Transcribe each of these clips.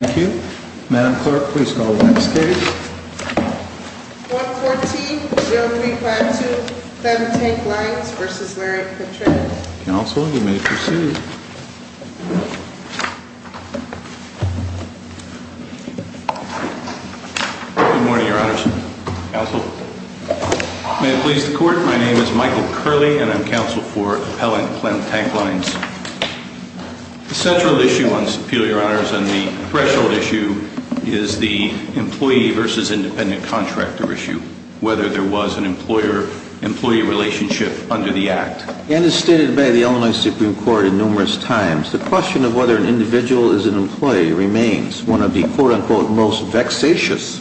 Thank you. Madam Clerk, please call the next case. 114.0352 Clemm Tank Lines v. Larry Petran. Counsel, you may proceed. Good morning, Your Honors. Counsel. May it please the Court, my name is Michael Curley and I'm counsel for Appellant Clemm Tank Lines. The central issue on this appeal, Your Honors, and the threshold issue is the employee versus independent contractor issue. Whether there was an employer-employee relationship under the Act. And as stated by the Illinois Supreme Court in numerous times, the question of whether an individual is an employee remains one of the quote-unquote most vexatious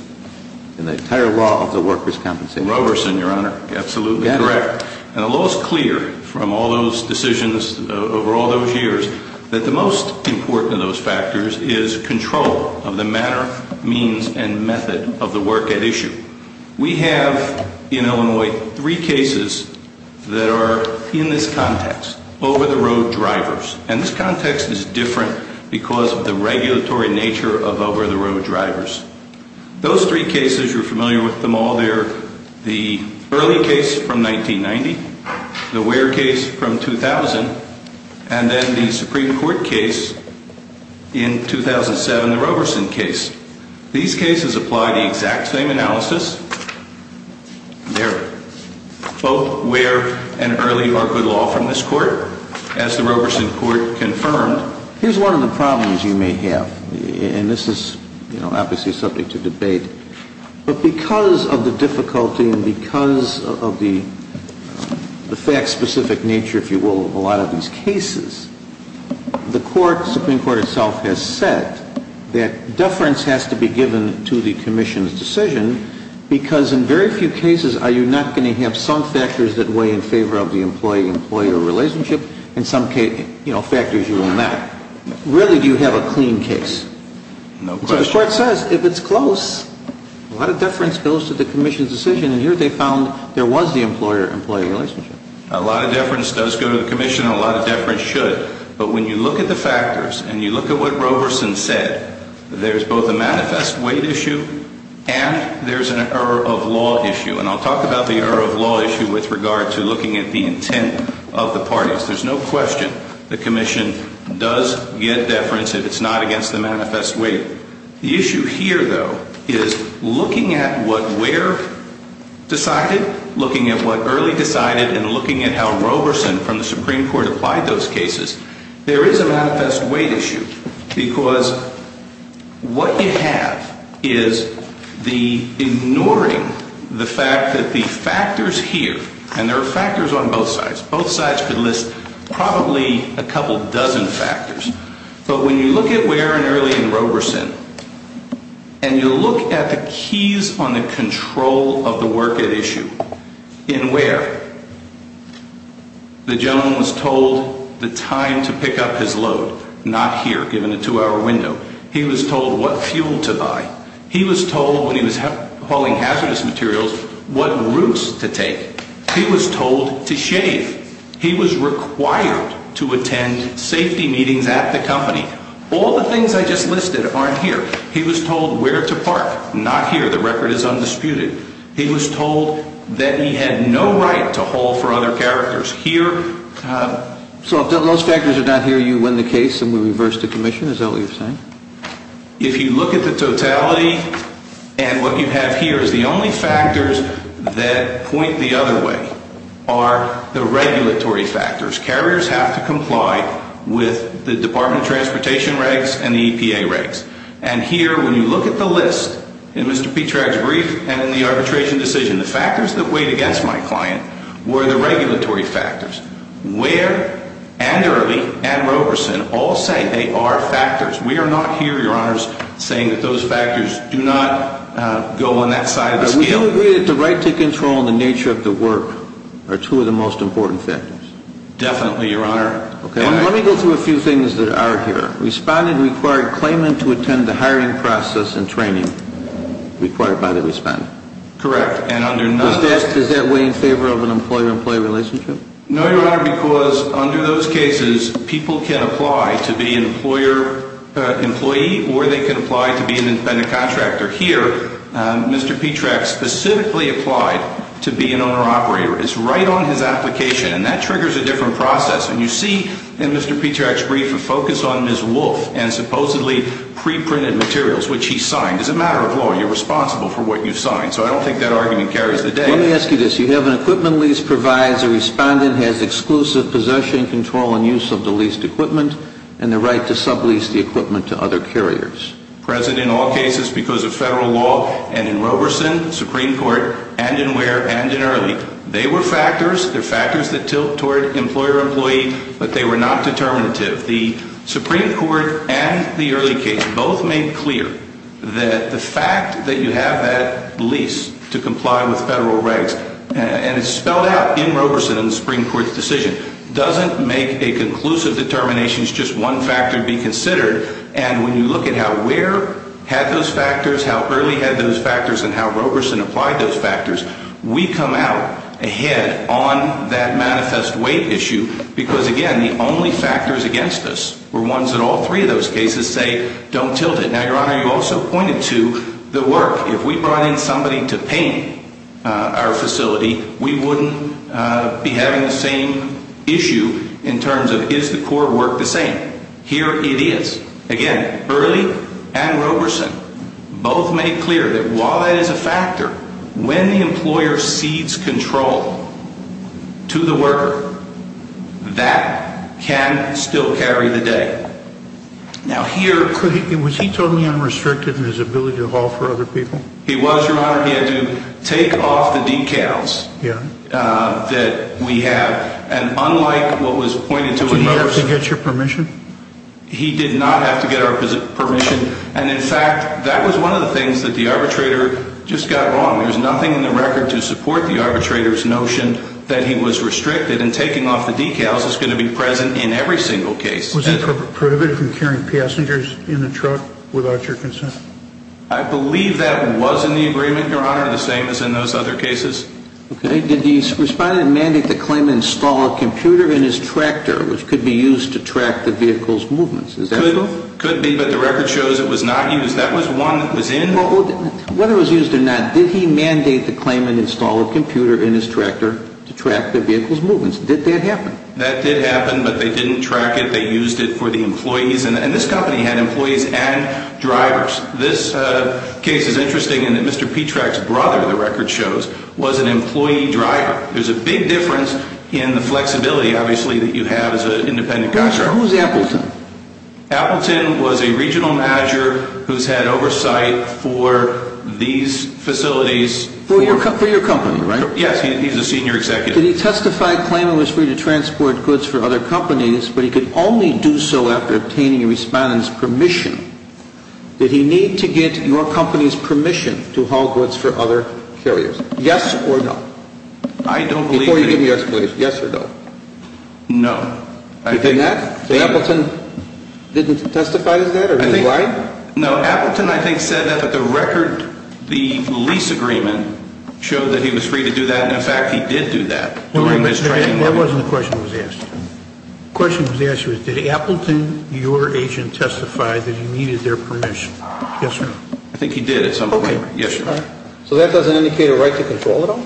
in the entire law of the workers' compensation. Roberson, Your Honor. Absolutely correct. And the law is clear from all those decisions over all those years that the most important of those factors is control of the manner, means, and method of the work at issue. We have in Illinois three cases that are in this context, over-the-road drivers. And this context is different because of the regulatory nature of over-the-road drivers. Those three cases, you're familiar with them all, they're the Early case from 1990, the Ware case from 2000, and then the Supreme Court case in 2007, the Roberson case. These cases apply the exact same analysis. There. Both Ware and Early are good law from this Court, as the Roberson Court confirmed. But here's one of the problems you may have. And this is, you know, obviously subject to debate. But because of the difficulty and because of the fact-specific nature, if you will, of a lot of these cases, the Supreme Court itself has said that deference has to be given to the Commission's decision because in very few cases are you not going to have some factors that weigh in favor of the employee-employee relationship and some factors you will not. Rarely do you have a clean case. No question. So the Court says if it's close, a lot of deference goes to the Commission's decision. And here they found there was the employer-employee relationship. A lot of deference does go to the Commission and a lot of deference should. But when you look at the factors and you look at what Roberson said, there's both a manifest weight issue and there's an error of law issue. And I'll talk about the error of law issue with regard to looking at the intent of the parties. There's no question the Commission does get deference if it's not against the manifest weight. The issue here, though, is looking at what Ware decided, looking at what Early decided, and looking at how Roberson from the Supreme Court applied those cases, there is a manifest weight issue. Because what you have is the ignoring the fact that the factors here, and there are factors on both sides, both sides could list probably a couple dozen factors. But when you look at Ware and Early and Roberson, and you look at the keys on the control of the work at issue in Ware, the gentleman was told the time to pick up his load. Not here, given a two-hour window. He was told what fuel to buy. He was told when he was hauling hazardous materials what routes to take. He was told to shave. He was required to attend safety meetings at the company. All the things I just listed aren't here. He was told where to park. Not here. The record is undisputed. He was told that he had no right to haul for other characters. Here... So if those factors are not here, you win the case and we reverse the Commission, is that what you're saying? If you look at the totality and what you have here is the only factors that point the other way are the regulatory factors. Carriers have to comply with the Department of Transportation regs and the EPA regs. And here, when you look at the list in Mr. Petrag's brief and in the arbitration decision, the factors that weighed against my client were the regulatory factors. Ware and Early and Roberson all say they are factors. We are not here, Your Honor, saying that those factors do not go on that side of the scale. We do agree that the right to control and the nature of the work are two of the most important factors. Definitely, Your Honor. Let me go through a few things that are here. Respondent required claimant to attend the hiring process and training required by the respondent. Correct. And under none of those... Does that weigh in favor of an employer-employee relationship? No, Your Honor, because under those cases, people can apply to be an employer-employee or they can apply to be an independent contractor. Here, Mr. Petrag specifically applied to be an owner-operator. It's right on his application and that triggers a different process. And you see in Mr. Petrag's brief a focus on Ms. Wolf and supposedly pre-printed materials, which he signed. As a matter of law, you're responsible for what you've signed. So I don't think that argument carries the day. Let me ask you this. You have an equipment lease, provides a respondent has exclusive possession, control, and use of the leased equipment, and the right to sublease the equipment to other carriers. Present in all cases because of federal law and in Roberson, Supreme Court, and in Ware, and in Early. They were factors. They're factors that tilt toward employer-employee, but they were not determinative. The Supreme Court and the Early case both made clear that the fact that you have that lease to comply with federal regs, and it's spelled out in Roberson in the Supreme Court's decision, doesn't make a conclusive determination as just one factor to be considered. And when you look at how Ware had those factors, how Early had those factors, and how Roberson applied those factors, we come out ahead on that manifest weight issue. Because again, the only factors against us were ones that all three of those cases say, don't tilt it. Now, Your Honor, you also pointed to the work. If we brought in somebody to paint our facility, we wouldn't be having the same issue in terms of is the core work the same. Here it is. Again, Early and Roberson both made clear that while that is a factor, when the employer cedes control to the worker, that can still carry the day. Was he totally unrestricted in his ability to haul for other people? He was, Your Honor. He had to take off the decals that we have. Did he have to get your permission? He did not have to get our permission. And in fact, that was one of the things that the arbitrator just got wrong. There's nothing in the record to support the arbitrator's notion that he was restricted in taking off the decals that's going to be present in every single case. Was he prohibited from carrying passengers in the truck without your consent? I believe that was in the agreement, Your Honor, the same as in those other cases. Did the respondent mandate to claim and install a computer in his tractor which could be used to track the vehicle's movements? Could be, but the record shows it was not used. That was one that was in. Whether it was used or not, did he mandate to claim and install a computer in his tractor to track the vehicle's movements? Did that happen? That did happen, but they didn't track it. They used it for the employees. And this company had employees and drivers. This case is interesting in that Mr. Petrak's brother, the record shows, was an employee driver. There's a big difference in the flexibility, obviously, that you have as an independent contractor. Who's Appleton? Appleton was a regional manager who's had oversight for these facilities. For your company, right? Yes, he's a senior executive. Did he testify claiming he was free to transport goods for other companies, but he could only do so after obtaining a respondent's permission? Did he need to get your company's permission to haul goods for other carriers? Yes or no? I don't believe that he... Before you give me your explanation, yes or no? No. He did not? So Appleton didn't testify to that? Are you lying? No, Appleton I think said that, but the record, the lease agreement, showed that he was free to do that, and in fact he did do that during his training. That wasn't the question that was asked. The question that was asked was, did Appleton, your agent, testify that he needed their permission? Yes or no? I think he did at some point. Yes, sir. So that doesn't indicate a right to control at all?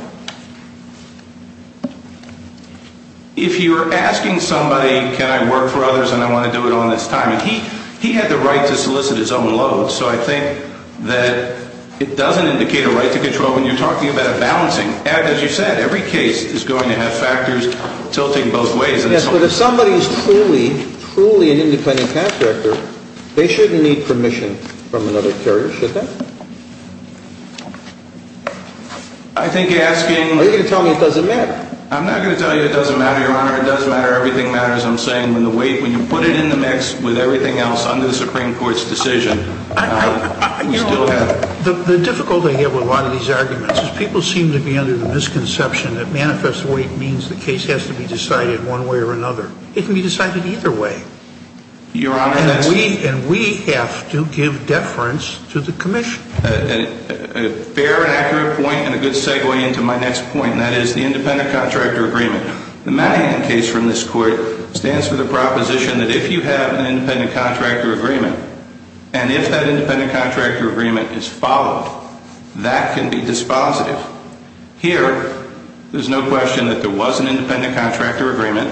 If you're asking somebody, can I work for others and I want to do it on this time, and he had the right to solicit his own load, so I think that it doesn't indicate a right to control when you're talking about a balancing. And as you said, every case is going to have factors tilting both ways. Yes, but if somebody is truly, truly an independent contractor, they shouldn't need permission from another carrier, should they? I think asking... Are you going to tell me it doesn't matter? I'm not going to tell you it doesn't matter, Your Honor. It does matter. Everything matters. I'm saying when the weight, when you put it in the mix with everything else under the Supreme Court's decision... The difficulty I have with a lot of these arguments is people seem to be under the misconception that manifest weight means the case has to be decided one way or another. It can be decided either way. Your Honor, that's... And we have to give deference to the Commission. A fair and accurate point and a good segue into my next point, and that is the independent contractor agreement. The Madigan case from this Court stands for the proposition that if you have an independent contractor agreement, and if that independent contractor agreement is followed, that can be dispositive. Here, there's no question that there was an independent contractor agreement.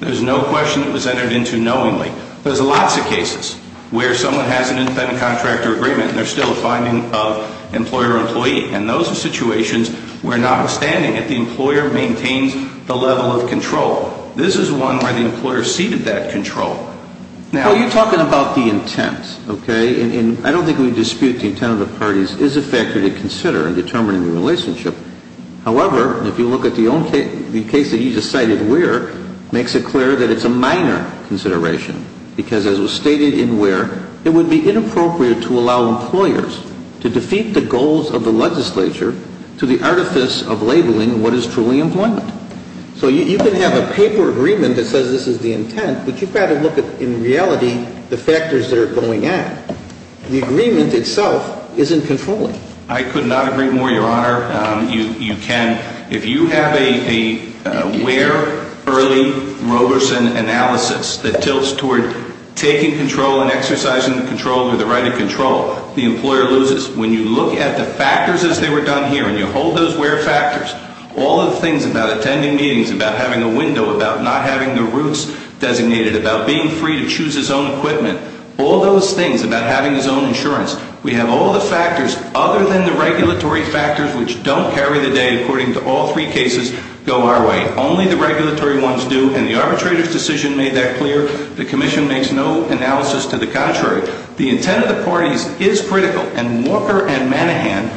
There's no question it was entered into knowingly. There's lots of cases where someone has an independent contractor agreement and there's still a finding of employer-employee, and those are situations where notwithstanding it, the employer maintains the level of control. This is one where the employer ceded that control. Now... Well, you're talking about the intent, okay? And I don't think we dispute the intent of the parties is a factor to consider in determining the relationship. However, if you look at the case that you just cited where, it makes it clear that it's a minor consideration. Because as was stated in where, it would be inappropriate to allow employers to defeat the goals of the legislature to the artifice of labeling what is truly employment. So you can have a paper agreement that says this is the intent, but you've got to look at, in reality, the factors that are going at. The agreement itself isn't controlling. I could not agree more, Your Honor. You can. If you have a where, early, Roberson analysis that tilts toward taking control and exercising the control or the right of control, the employer loses. When you look at the factors as they were done here, and you hold those where factors, all of the things about attending meetings, about having a window, about not having the routes designated, about being free to choose his own equipment, all those things, about having his own insurance, we have all the factors other than the regulatory factors which don't carry the day, according to all three cases, go our way. Only the regulatory ones do, and the arbitrator's decision made that clear. The Commission makes no analysis to the contrary. The intent of the parties is critical, and Walker and Manahan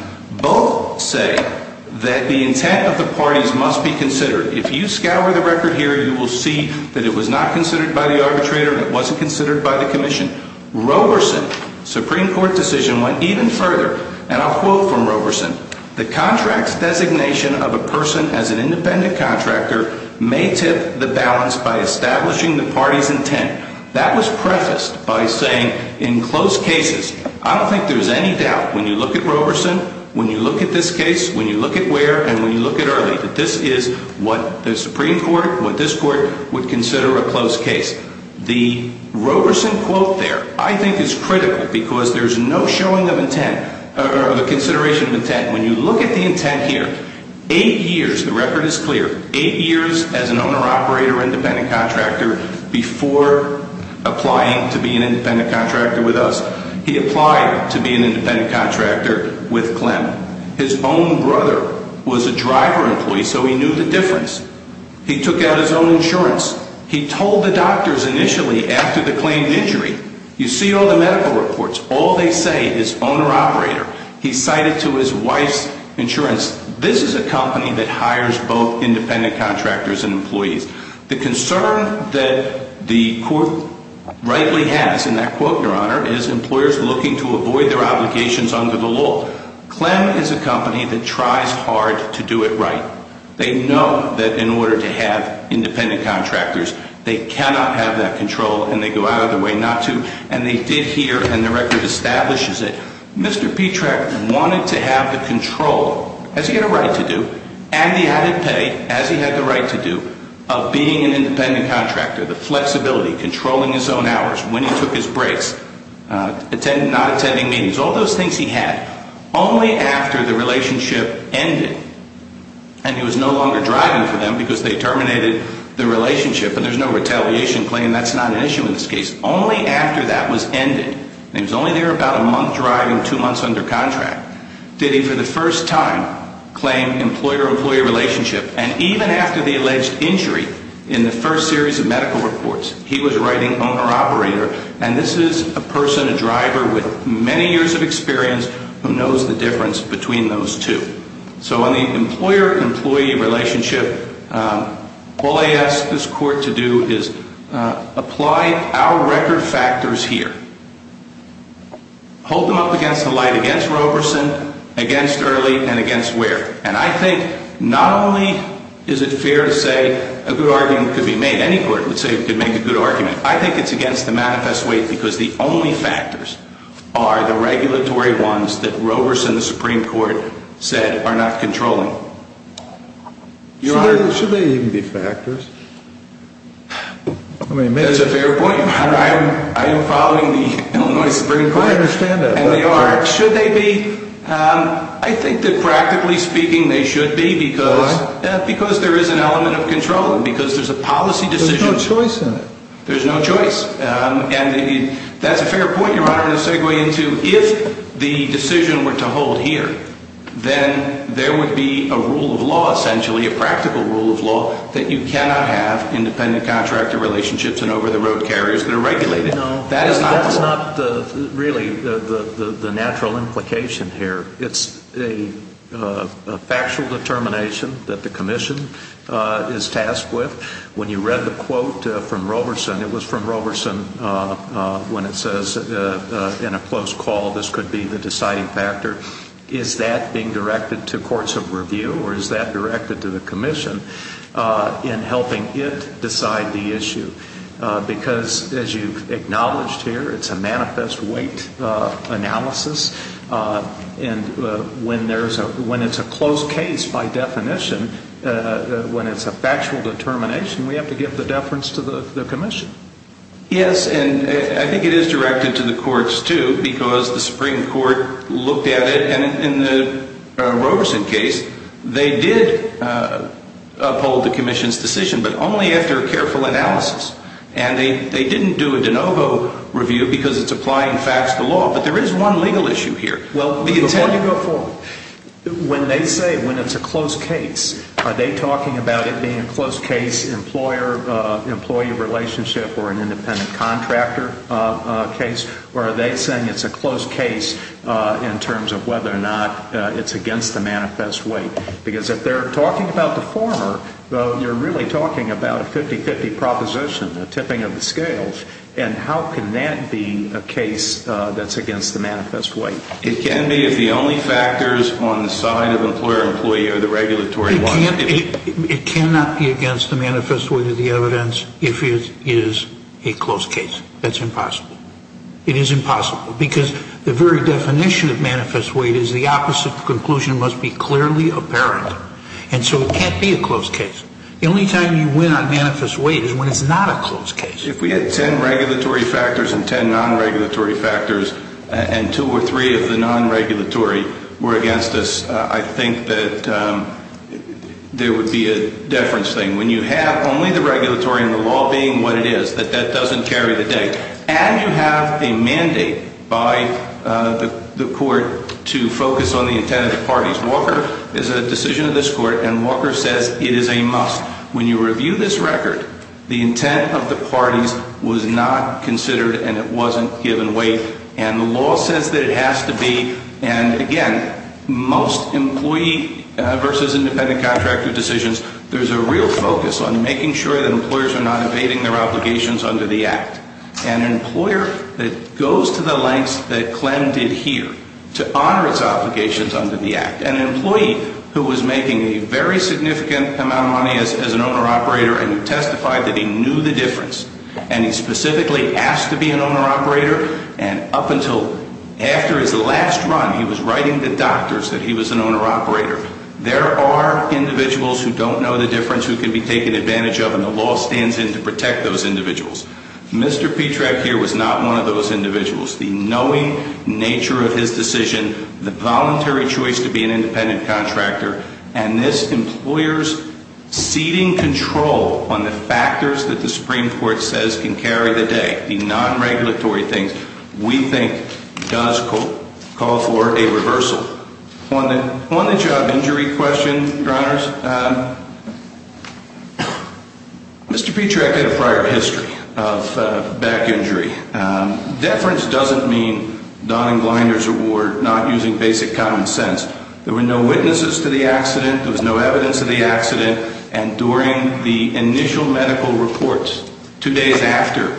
both say that the intent of the parties must be considered. If you scour the record here, you will see that it was not considered by the arbitrator and it wasn't considered by the Commission. Roberson's Supreme Court decision went even further, and I'll quote from Roberson. The contract's designation of a person as an independent contractor may tip the balance by establishing the party's intent. That was prefaced by saying, in close cases, I don't think there's any doubt when you look at Roberson, when you look at this case, when you look at where, and when you look at early, that this is what the Supreme Court, what this Court, would consider a close case. The Roberson quote there, I think, is critical because there's no showing of intent, or of a consideration of intent. When you look at the intent here, eight years, the record is clear, eight years as an owner-operator independent contractor before applying to be an independent contractor with us, he applied to be an independent contractor with Clem. His own brother was a driver employee, so he knew the difference. He took out his own insurance. He told the doctors initially after the claimed injury, you see all the medical reports, all they say is owner-operator. He cited to his wife's insurance. This is a company that hires both independent contractors and employees. The concern that the Court rightly has in that quote, Your Honor, is employers looking to avoid their obligations under the law. Clem is a company that tries hard to do it right. They know that in order to have independent contractors, they cannot have that control, and they go out of their way not to. And they did here, and the record establishes it. Mr. Petrak wanted to have the control, as he had a right to do, and the added pay, as he had the right to do, of being an independent contractor. The flexibility, controlling his own hours, when he took his breaks, not attending meetings, all those things he had. Only after the relationship ended, and he was no longer driving for them because they terminated the relationship, and there's no retaliation claim, that's not an issue in this case. Only after that was ended, and he was only there about a month driving, two months under contract, did he for the first time claim employer-employee relationship. And even after the alleged injury in the first series of medical reports, he was writing owner-operator. And this is a person, a driver, with many years of experience, who knows the difference between those two. So in the employer-employee relationship, all I ask this court to do is apply our record factors here. Hold them up against the light against Roberson, against Early, and against Ware. And I think not only is it fair to say a good argument could be made, any court would say it could make a good argument, I think it's against the manifest way because the only factors are the regulatory ones that Roberson, the Supreme Court, said are not controlling. Should they even be factors? That's a fair point. I am following the Illinois Supreme Court, and they are. Should they be? I think that practically speaking they should be because there is an element of controlling, because there's a policy decision. There's no choice in it. There's no choice. And that's a fair point, Your Honor, to segue into. If the decision were to hold here, then there would be a rule of law essentially, a practical rule of law, that you cannot have independent contractor relationships and over-the-road carriers that are regulated. No, that's not really the natural implication here. It's a factual determination that the Commission is tasked with. When you read the quote from Roberson, it was from Roberson when it says, in a close call, this could be the deciding factor. Is that being directed to courts of review, or is that directed to the Commission in helping it decide the issue? Because, as you've acknowledged here, it's a manifest weight analysis. And when it's a close case, by definition, when it's a factual determination, we have to give the deference to the Commission. Yes, and I think it is directed to the courts too, because the Supreme Court looked at it, and in the Roberson case, they did uphold the Commission's decision, but only after careful analysis. And they didn't do a de novo review because it's applying facts to law. But there is one legal issue here. Well, before you go forward, when they say when it's a close case, are they talking about it being a close case employer-employee relationship or an independent contractor case, or are they saying it's a close case in terms of whether or not it's against the manifest weight? Because if they're talking about the former, you're really talking about a 50-50 proposition, a tipping of the scales. And how can that be a case that's against the manifest weight? It can be if the only factors on the side of employer-employee are the regulatory ones. It cannot be against the manifest weight of the evidence if it is a close case. That's impossible. It is impossible, because the very definition of manifest weight is the opposite conclusion must be clearly apparent. And so it can't be a close case. The only time you win on manifest weight is when it's not a close case. If we had ten regulatory factors and ten non-regulatory factors, and two or three of the non-regulatory were against this, I think that there would be a deference thing. When you have only the regulatory and the law being what it is, that that doesn't carry the day. And you have a mandate by the court to focus on the intent of the parties. Walker is a decision of this court, and Walker says it is a must. When you review this record, the intent of the parties was not considered and it wasn't given weight. And the law says that it has to be, and again, most employee versus independent contractor decisions, there's a real focus on making sure that employers are not evading their obligations under the Act. An employer that goes to the lengths that Clem did here to honor its obligations under the Act, an employee who was making a very significant amount of money as an owner-operator and testified that he knew the difference, and he specifically asked to be an owner-operator and up until after his last run, he was writing to doctors that he was an owner-operator. There are individuals who don't know the difference who can be taken advantage of, and the law stands in to protect those individuals. Mr. Petrak here was not one of those individuals. The knowing nature of his decision, the voluntary choice to be an independent contractor, and this employer's ceding control on the factors that the Supreme Court says can carry the day, the non-regulatory things, we think does, quote, call for a reversal. On the job injury question, Your Honors, Mr. Petrak had a prior history of back injury. Deference doesn't mean Don and Gliner's award, not using basic common sense. There were no witnesses to the accident. There was no evidence of the accident. And during the initial medical reports, two days after,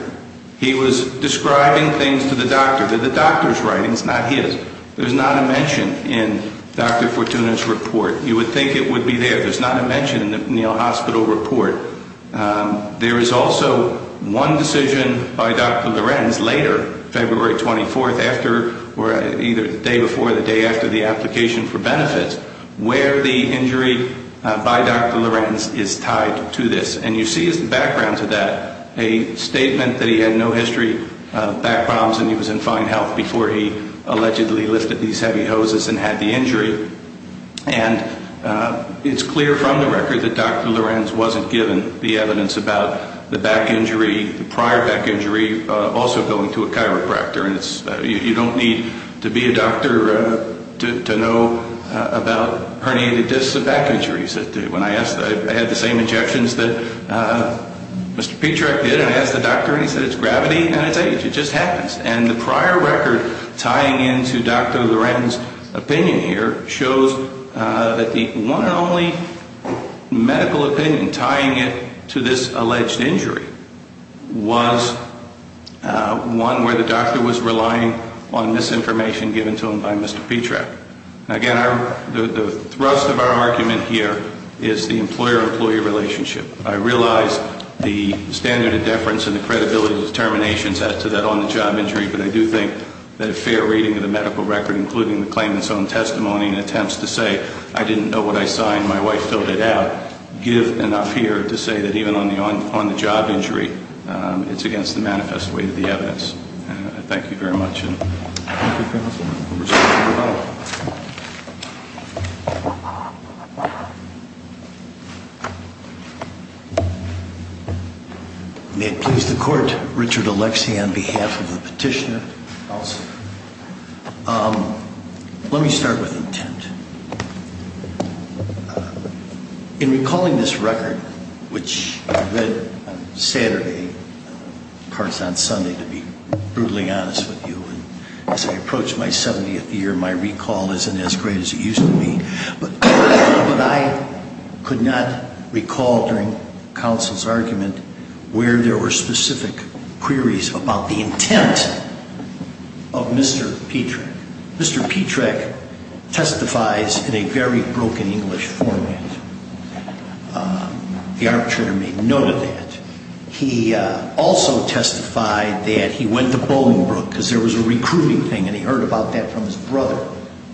he was describing things to the doctor. They're the doctor's writings, not his. There's not a mention in Dr. Fortuna's report. You would think it would be there. There's not a mention in the Neal Hospital report. There is also one decision by Dr. Lorenz later, February 24th, where the injury by Dr. Lorenz is tied to this. And you see as the background to that a statement that he had no history of back problems and he was in fine health before he allegedly lifted these heavy hoses and had the injury. And it's clear from the record that Dr. Lorenz wasn't given the evidence about the back injury, the prior back injury, also going to a chiropractor. You don't need to be a doctor to know about herniated discs and back injuries. When I asked, I had the same injections that Mr. Petrak did, and I asked the doctor, and he said it's gravity and it's age. It just happens. And the prior record tying into Dr. Lorenz's opinion here shows that the one and only medical opinion and tying it to this alleged injury was one where the doctor was relying on misinformation given to him by Mr. Petrak. Again, the thrust of our argument here is the employer-employee relationship. I realize the standard of deference and the credibility of determinations as to that on-the-job injury, but I do think that a fair reading of the medical record, including the claimant's own testimony and attempts to say, I didn't know what I saw and my wife filled it out, give enough here to say that even on the job injury, it's against the manifest way of the evidence. Thank you very much. Thank you, counsel. Members, we'll move on. May it please the Court, Richard Alexi on behalf of the petitioner. Thank you, counsel. Let me start with intent. In recalling this record, which you read on Saturday and parts on Sunday, to be brutally honest with you, as I approach my 70th year, my recall isn't as great as it used to be, but I could not recall during counsel's argument where there were specific queries about the intent of Mr. Petrak. Mr. Petrak testifies in a very broken English format. The arbitrator made note of that. He also testified that he went to Bolingbrook because there was a recruiting thing and he heard about that from his brother,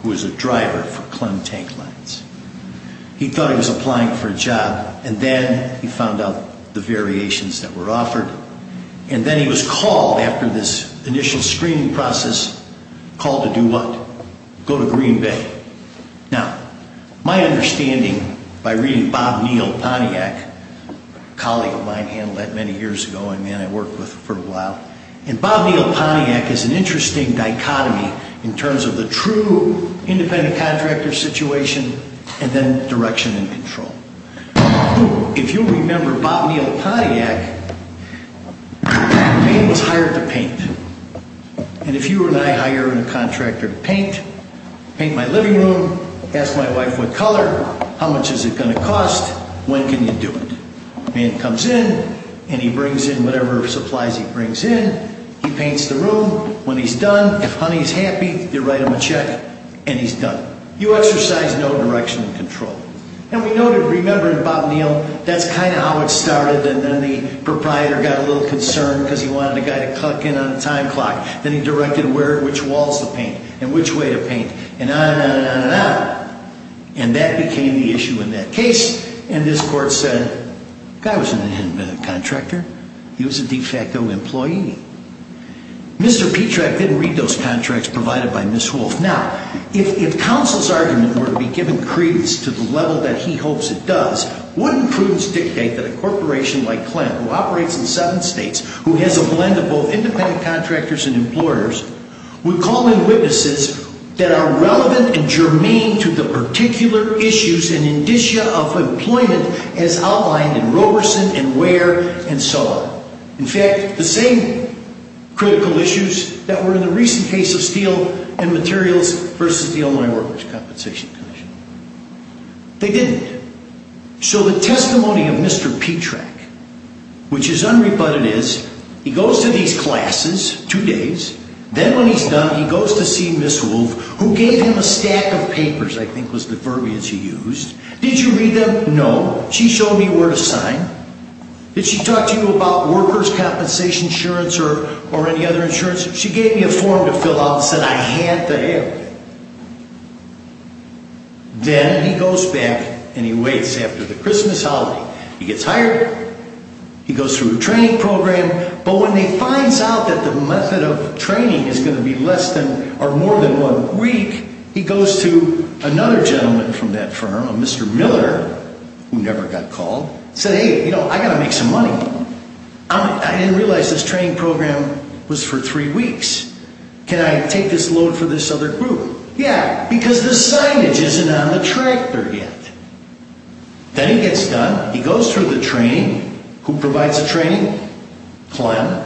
who was a driver for Clem Tank Lines. He thought he was applying for a job and then he found out the variations that were offered and then he was called after this initial screening process, called to do what? Go to Green Bay. Now, my understanding by reading Bob Neal Pontiac, a colleague of mine handled that many years ago, a man I worked with for a while, and Bob Neal Pontiac is an interesting dichotomy in terms of the true independent contractor situation and then direction and control. If you remember Bob Neal Pontiac, the man was hired to paint. And if you and I hire a contractor to paint, paint my living room, ask my wife what color, how much is it going to cost, when can you do it? The man comes in and he brings in whatever supplies he brings in. He paints the room. When he's done, if honey is happy, you write him a check and he's done. You exercise no direction and control. And we noted, remembering Bob Neal, that's kind of how it started and then the proprietor got a little concerned because he wanted the guy to click in on the time clock. Then he directed which walls to paint and which way to paint and on and on and on and on. And that became the issue in that case. And this court said, the guy was an independent contractor. He was a de facto employee. Mr. Petrak didn't read those contracts provided by Ms. Wolfe. Now, if counsel's argument were to be given credence to the level that he hopes it does, wouldn't prudence dictate that a corporation like Clem, who operates in seven states, who has a blend of both independent contractors and employers, would call in witnesses that are relevant and germane to the particular issues and indicia of employment as outlined in Roberson and Ware and so on. In fact, the same critical issues that were in the recent case of Steel and Materials versus the Illinois Workers' Compensation Commission. They didn't. So the testimony of Mr. Petrak, which is unrebutted is, he goes to these classes, two days. Then when he's done, he goes to see Ms. Wolfe, who gave him a stack of papers, I think was the verbiage he used. Did you read them? No. She showed me where to sign. Did she talk to you about workers' compensation insurance or any other insurance? She gave me a form to fill out and said I had to have it. Then he goes back and he waits after the Christmas holiday. He gets hired. He goes through a training program. But when he finds out that the method of training is going to be less than or more than one week, he goes to another gentleman from that firm, a Mr. Miller, who never got called. He said, hey, I've got to make some money. I didn't realize this training program was for three weeks. Can I take this load for this other group? Yeah, because the signage isn't on the tractor yet. Then he gets done. He goes through the training. Who provides the training? Clem.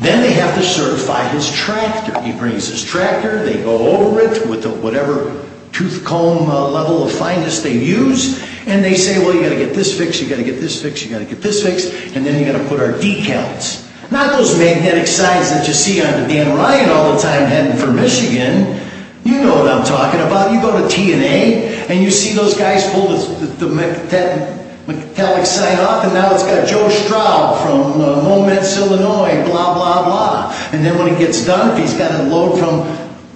Then they have to certify his tractor. He brings his tractor. They go over it with whatever tooth comb level of fineness they use. And they say, well, you've got to get this fixed. You've got to get this fixed. You've got to get this fixed. And then you've got to put our decals. Not those Manhattan signs that you see on the Van Ryan all the time heading for Michigan. You know what I'm talking about. You go to T&A, and you see those guys pull the metallic sign off, and now it's got Joe Straub from Moments, Illinois, blah, blah, blah. And then when he gets done, he's got a load from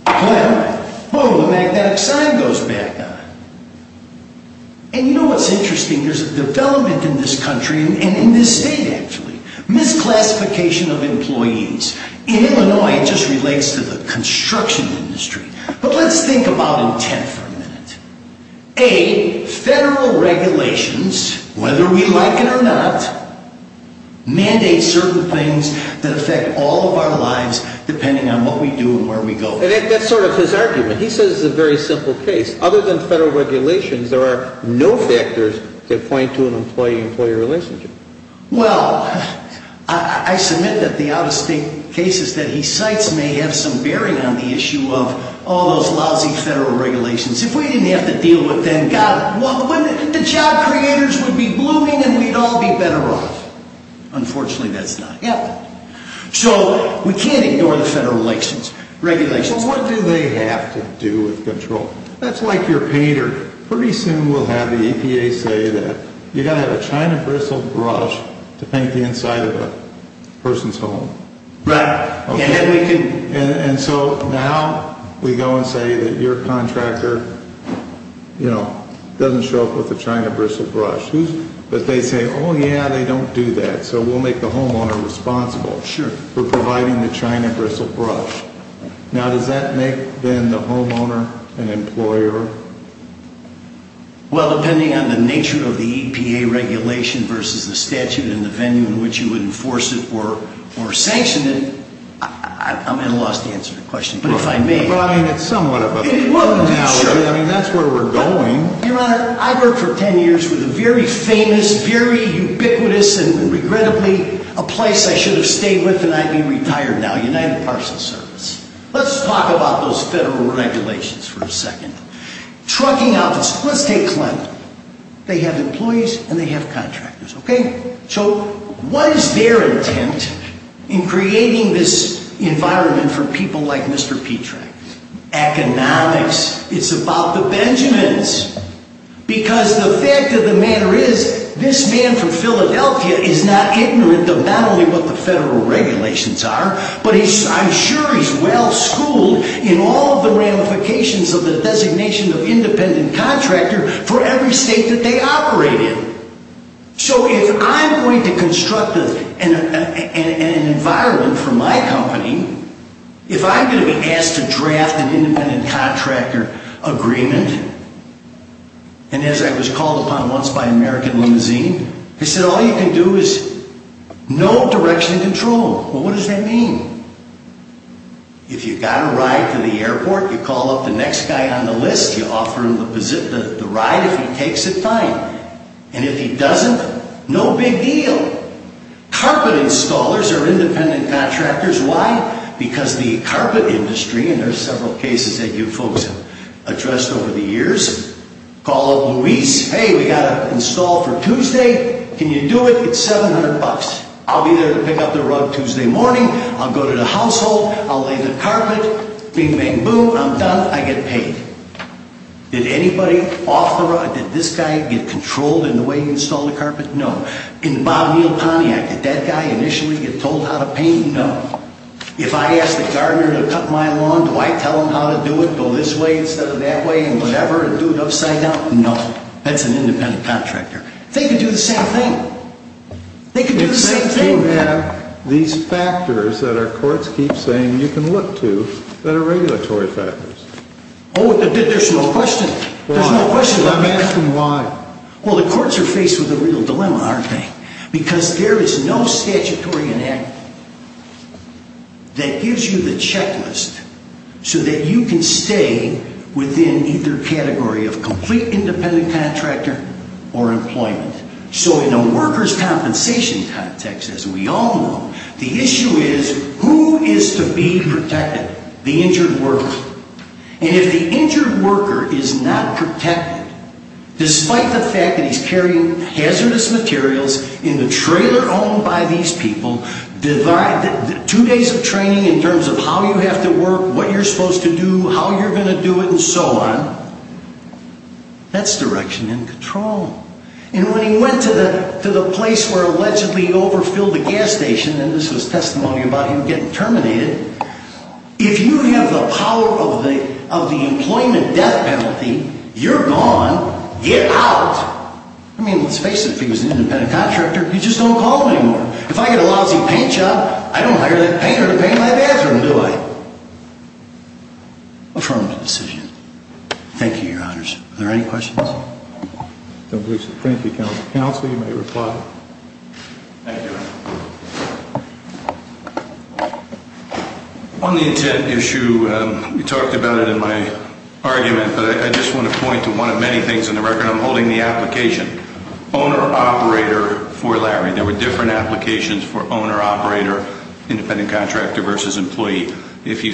Clem. Boom, the magnetic sign goes back on. And you know what's interesting? There's a development in this country and in this state, actually. Misclassification of employees. In Illinois, it just relates to the construction industry. But let's think about intent for a minute. A, federal regulations, whether we like it or not, mandate certain things that affect all of our lives depending on what we do and where we go. That's sort of his argument. He says it's a very simple case. Other than federal regulations, there are no factors that point to an employee-employee relationship. Well, I submit that the out-of-state cases that he cites may have some bearing on the issue of all those lousy federal regulations. If we didn't have to deal with them, God, the job creators would be blooming and we'd all be better off. Unfortunately, that's not happening. So we can't ignore the federal regulations. Well, what do they have to do with control? That's like your painter. Pretty soon we'll have the EPA say that you've got to have a China bristle brush to paint the inside of a person's home. Right. And so now we go and say that your contractor, you know, doesn't show up with a China bristle brush. But they say, oh, yeah, they don't do that. So we'll make the homeowner responsible for providing the China bristle brush. Now, does that make, then, the homeowner an employer? Well, depending on the nature of the EPA regulation versus the statute and the venue in which you would enforce it or sanction it, I'm at a loss to answer the question. But if I may. Well, I mean, it's somewhat of a problem now. Well, sure. I mean, that's where we're going. Your Honor, I worked for 10 years with a very famous, very ubiquitous and regrettably a place I should have stayed with and I'd be retired now, United Parsons, sir. Let's talk about those federal regulations for a second. Trucking outfits. Let's take Clinton. They have employees and they have contractors. OK. So what is their intent in creating this environment for people like Mr. Petrak? Economics. It's about the Benjamins. Because the fact of the matter is, this man from Philadelphia is not ignorant of not only what the federal regulations are, but I'm sure he's well schooled in all of the ramifications of the designation of independent contractor for every state that they operate in. So if I'm going to construct an environment for my company, if I'm going to be asked to draft an independent contractor agreement, and as I was called upon once by American Limousine, they said all you can do is no direction control. Well, what does that mean? If you got a ride to the airport, you call up the next guy on the list, you offer him the ride if he takes it, fine. And if he doesn't, no big deal. Carpet installers are independent contractors. Why? Because the carpet industry, and there are several cases that you folks have addressed over the years, call up Luis. Hey, we got to install for Tuesday. Can you do it? It's 700 bucks. I'll be there to pick up the rug Tuesday morning. I'll go to the household. I'll lay the carpet. Bing, bang, boom. I'm done. I get paid. Did anybody off the rug, did this guy get controlled in the way he installed the carpet? No. In the Bob Neal Pontiac, did that guy initially get told how to paint? No. If I ask the gardener to cut my lawn, do I tell him how to do it, go this way instead of that way, and whatever, and do it upside down? No. That's an independent contractor. They can do the same thing. They can do the same thing. Why do you have these factors that our courts keep saying you can look to that are regulatory factors? Oh, there's no question. Why? I'm asking why. Well, the courts are faced with a real dilemma, aren't they? Because there is no statutory enactment that gives you the checklist so that you can stay within either category of complete independent contractor or employment. So in a workers' compensation context, as we all know, the issue is who is to be protected? The injured worker. And if the injured worker is not protected, despite the fact that he's carrying hazardous materials in the trailer owned by these people, two days of training in terms of how you have to work, what you're supposed to do, how you're going to do it, and so on, that's direction and control. And when he went to the place where allegedly he overfilled the gas station, and this was testimony about him getting terminated, if you have the power of the employment death penalty, you're gone. Get out. I mean, let's face it. If he was an independent contractor, you just don't call him anymore. If I get a lousy paint job, I don't hire that painter to paint my bathroom, do I? Affirmative decision. Thank you, Your Honors. Are there any questions? I don't believe so. Thank you, Counselor. You may reply. Thank you. On the intent issue, we talked about it in my argument, but I just want to point to one of many things in the record. I'm holding the application. Owner-operator for Larry. There were different applications for owner-operator, independent contractor versus employee. The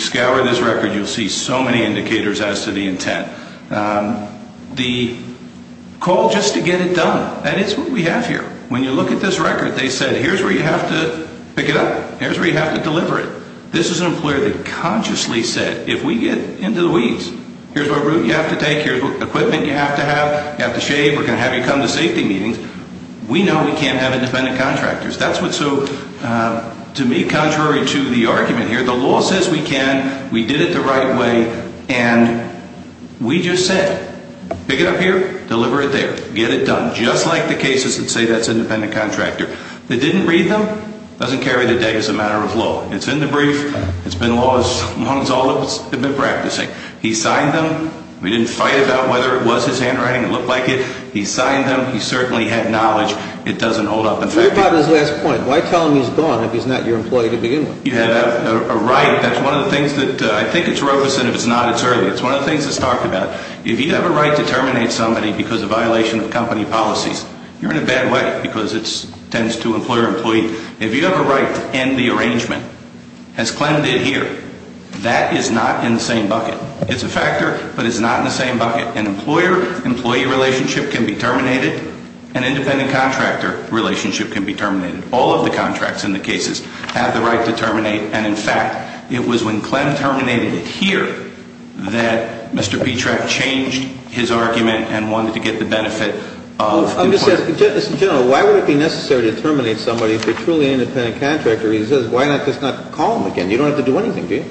call just to get it done. That is what we have here. When you look at this record, they said, here's where you have to pick it up. Here's where you have to deliver it. This is an employer that consciously said, if we get into the weeds, here's what route you have to take, here's what equipment you have to have, you have to shave, we're going to have you come to safety meetings. We know we can't have independent contractors. That's what's so, to me, contrary to the argument here. The law says we can. We did it the right way. And we just said, pick it up here, deliver it there. Get it done. Just like the cases that say that's independent contractor. They didn't read them. It doesn't carry the day as a matter of law. It's in the brief. It's been law as long as all of us have been practicing. He signed them. We didn't fight about whether it was his handwriting or looked like it. He signed them. He certainly had knowledge. It doesn't hold up. What about his last point? Why tell him he's gone if he's not your employee to begin with? You have a right. I think it's Robeson. If it's not, it's early. It's one of the things that's talked about. If you have a right to terminate somebody because of violation of company policies, you're in a bad way because it tends to employer-employee. If you have a right to end the arrangement, as Clem did here, that is not in the same bucket. It's a factor, but it's not in the same bucket. An employer-employee relationship can be terminated. An independent contractor relationship can be terminated. All of the contracts in the cases have the right to terminate. In fact, it was when Clem terminated it here that Mr. Petrak changed his argument and wanted to get the benefit of employers. General, why would it be necessary to terminate somebody if they're truly an independent contractor? Why not just not call them again? You don't have to do anything, do you?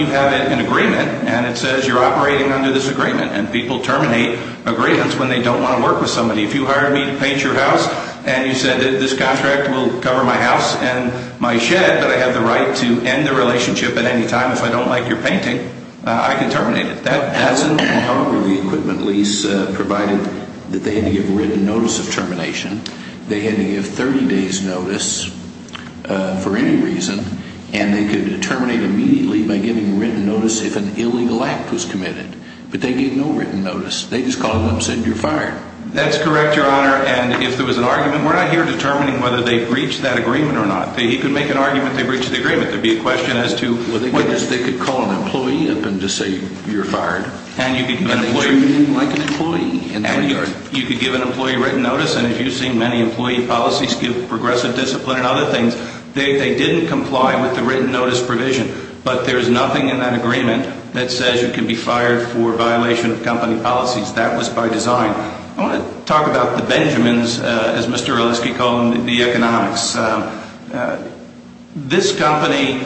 You have an agreement, and it says you're operating under this agreement. People terminate agreements when they don't want to work with somebody. If you hired me to paint your house and you said this contract will cover my house and my shed, but I have the right to end the relationship at any time if I don't like your painting, I can terminate it. That's an agreement. However, the equipment lease provided that they had to give written notice of termination. They had to give 30 days' notice for any reason, and they could terminate immediately by giving written notice if an illegal act was committed. But they gave no written notice. They just called them and said you're fired. That's correct, Your Honor, and if there was an argument, we're not here determining whether they've reached that agreement or not. He could make an argument they've reached the agreement. There'd be a question as to whether they've reached it. They could call an employee up and just say you're fired. And you could give an employee... And they treated you like an employee in that regard. And you could give an employee written notice, and as you've seen, many employee policies give progressive discipline and other things. They didn't comply with the written notice provision, but there's nothing in that agreement that says you can be fired for violation of company policies. That was by design. I want to talk about the Benjamins, as Mr. Relitsky called them, the economics. This company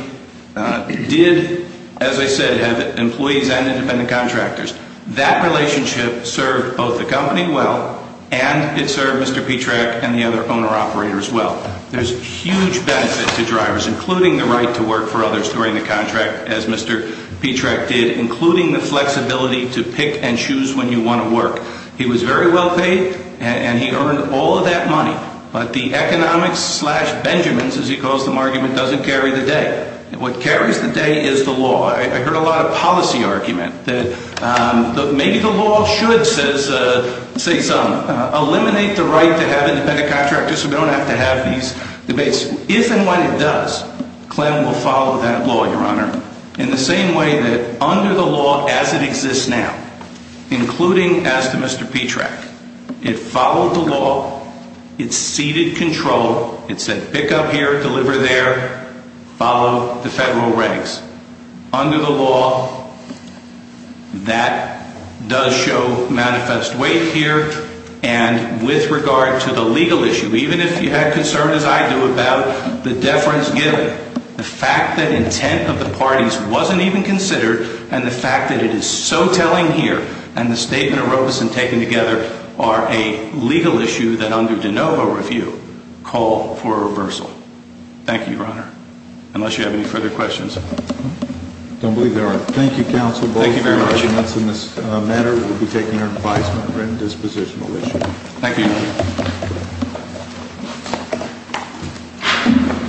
did, as I said, have employees and independent contractors. That relationship served both the company well, and it served Mr. Petrak and the other owner-operators well. There's huge benefit to drivers, including the right to work for others during the contract, as Mr. Petrak did, including the flexibility to pick and choose when you want to work. He was very well paid, and he earned all of that money. But the economics slash Benjamins, as he calls them, argument doesn't carry the day. What carries the day is the law. I heard a lot of policy argument that maybe the law should, say some, eliminate the right to have independent contractors so we don't have to have these debates. If and when it does, Clem will follow that law, Your Honor, in the same way that under the law as it exists now, including as to Mr. Petrak, it followed the law, it ceded control, it said pick up here, deliver there, follow the federal regs. Under the law, that does show manifest weight here. And with regard to the legal issue, even if you had concerns, as I do, about the deference given, the fact that intent of the parties wasn't even considered, and the fact that it is so telling here, and the statement of Robeson taken together are a legal issue that under de novo review call for reversal. Thank you, Your Honor. Unless you have any further questions. I don't believe there are. Thank you, Counsel. Thank you very much. We'll be taking your advice on this position. Thank you.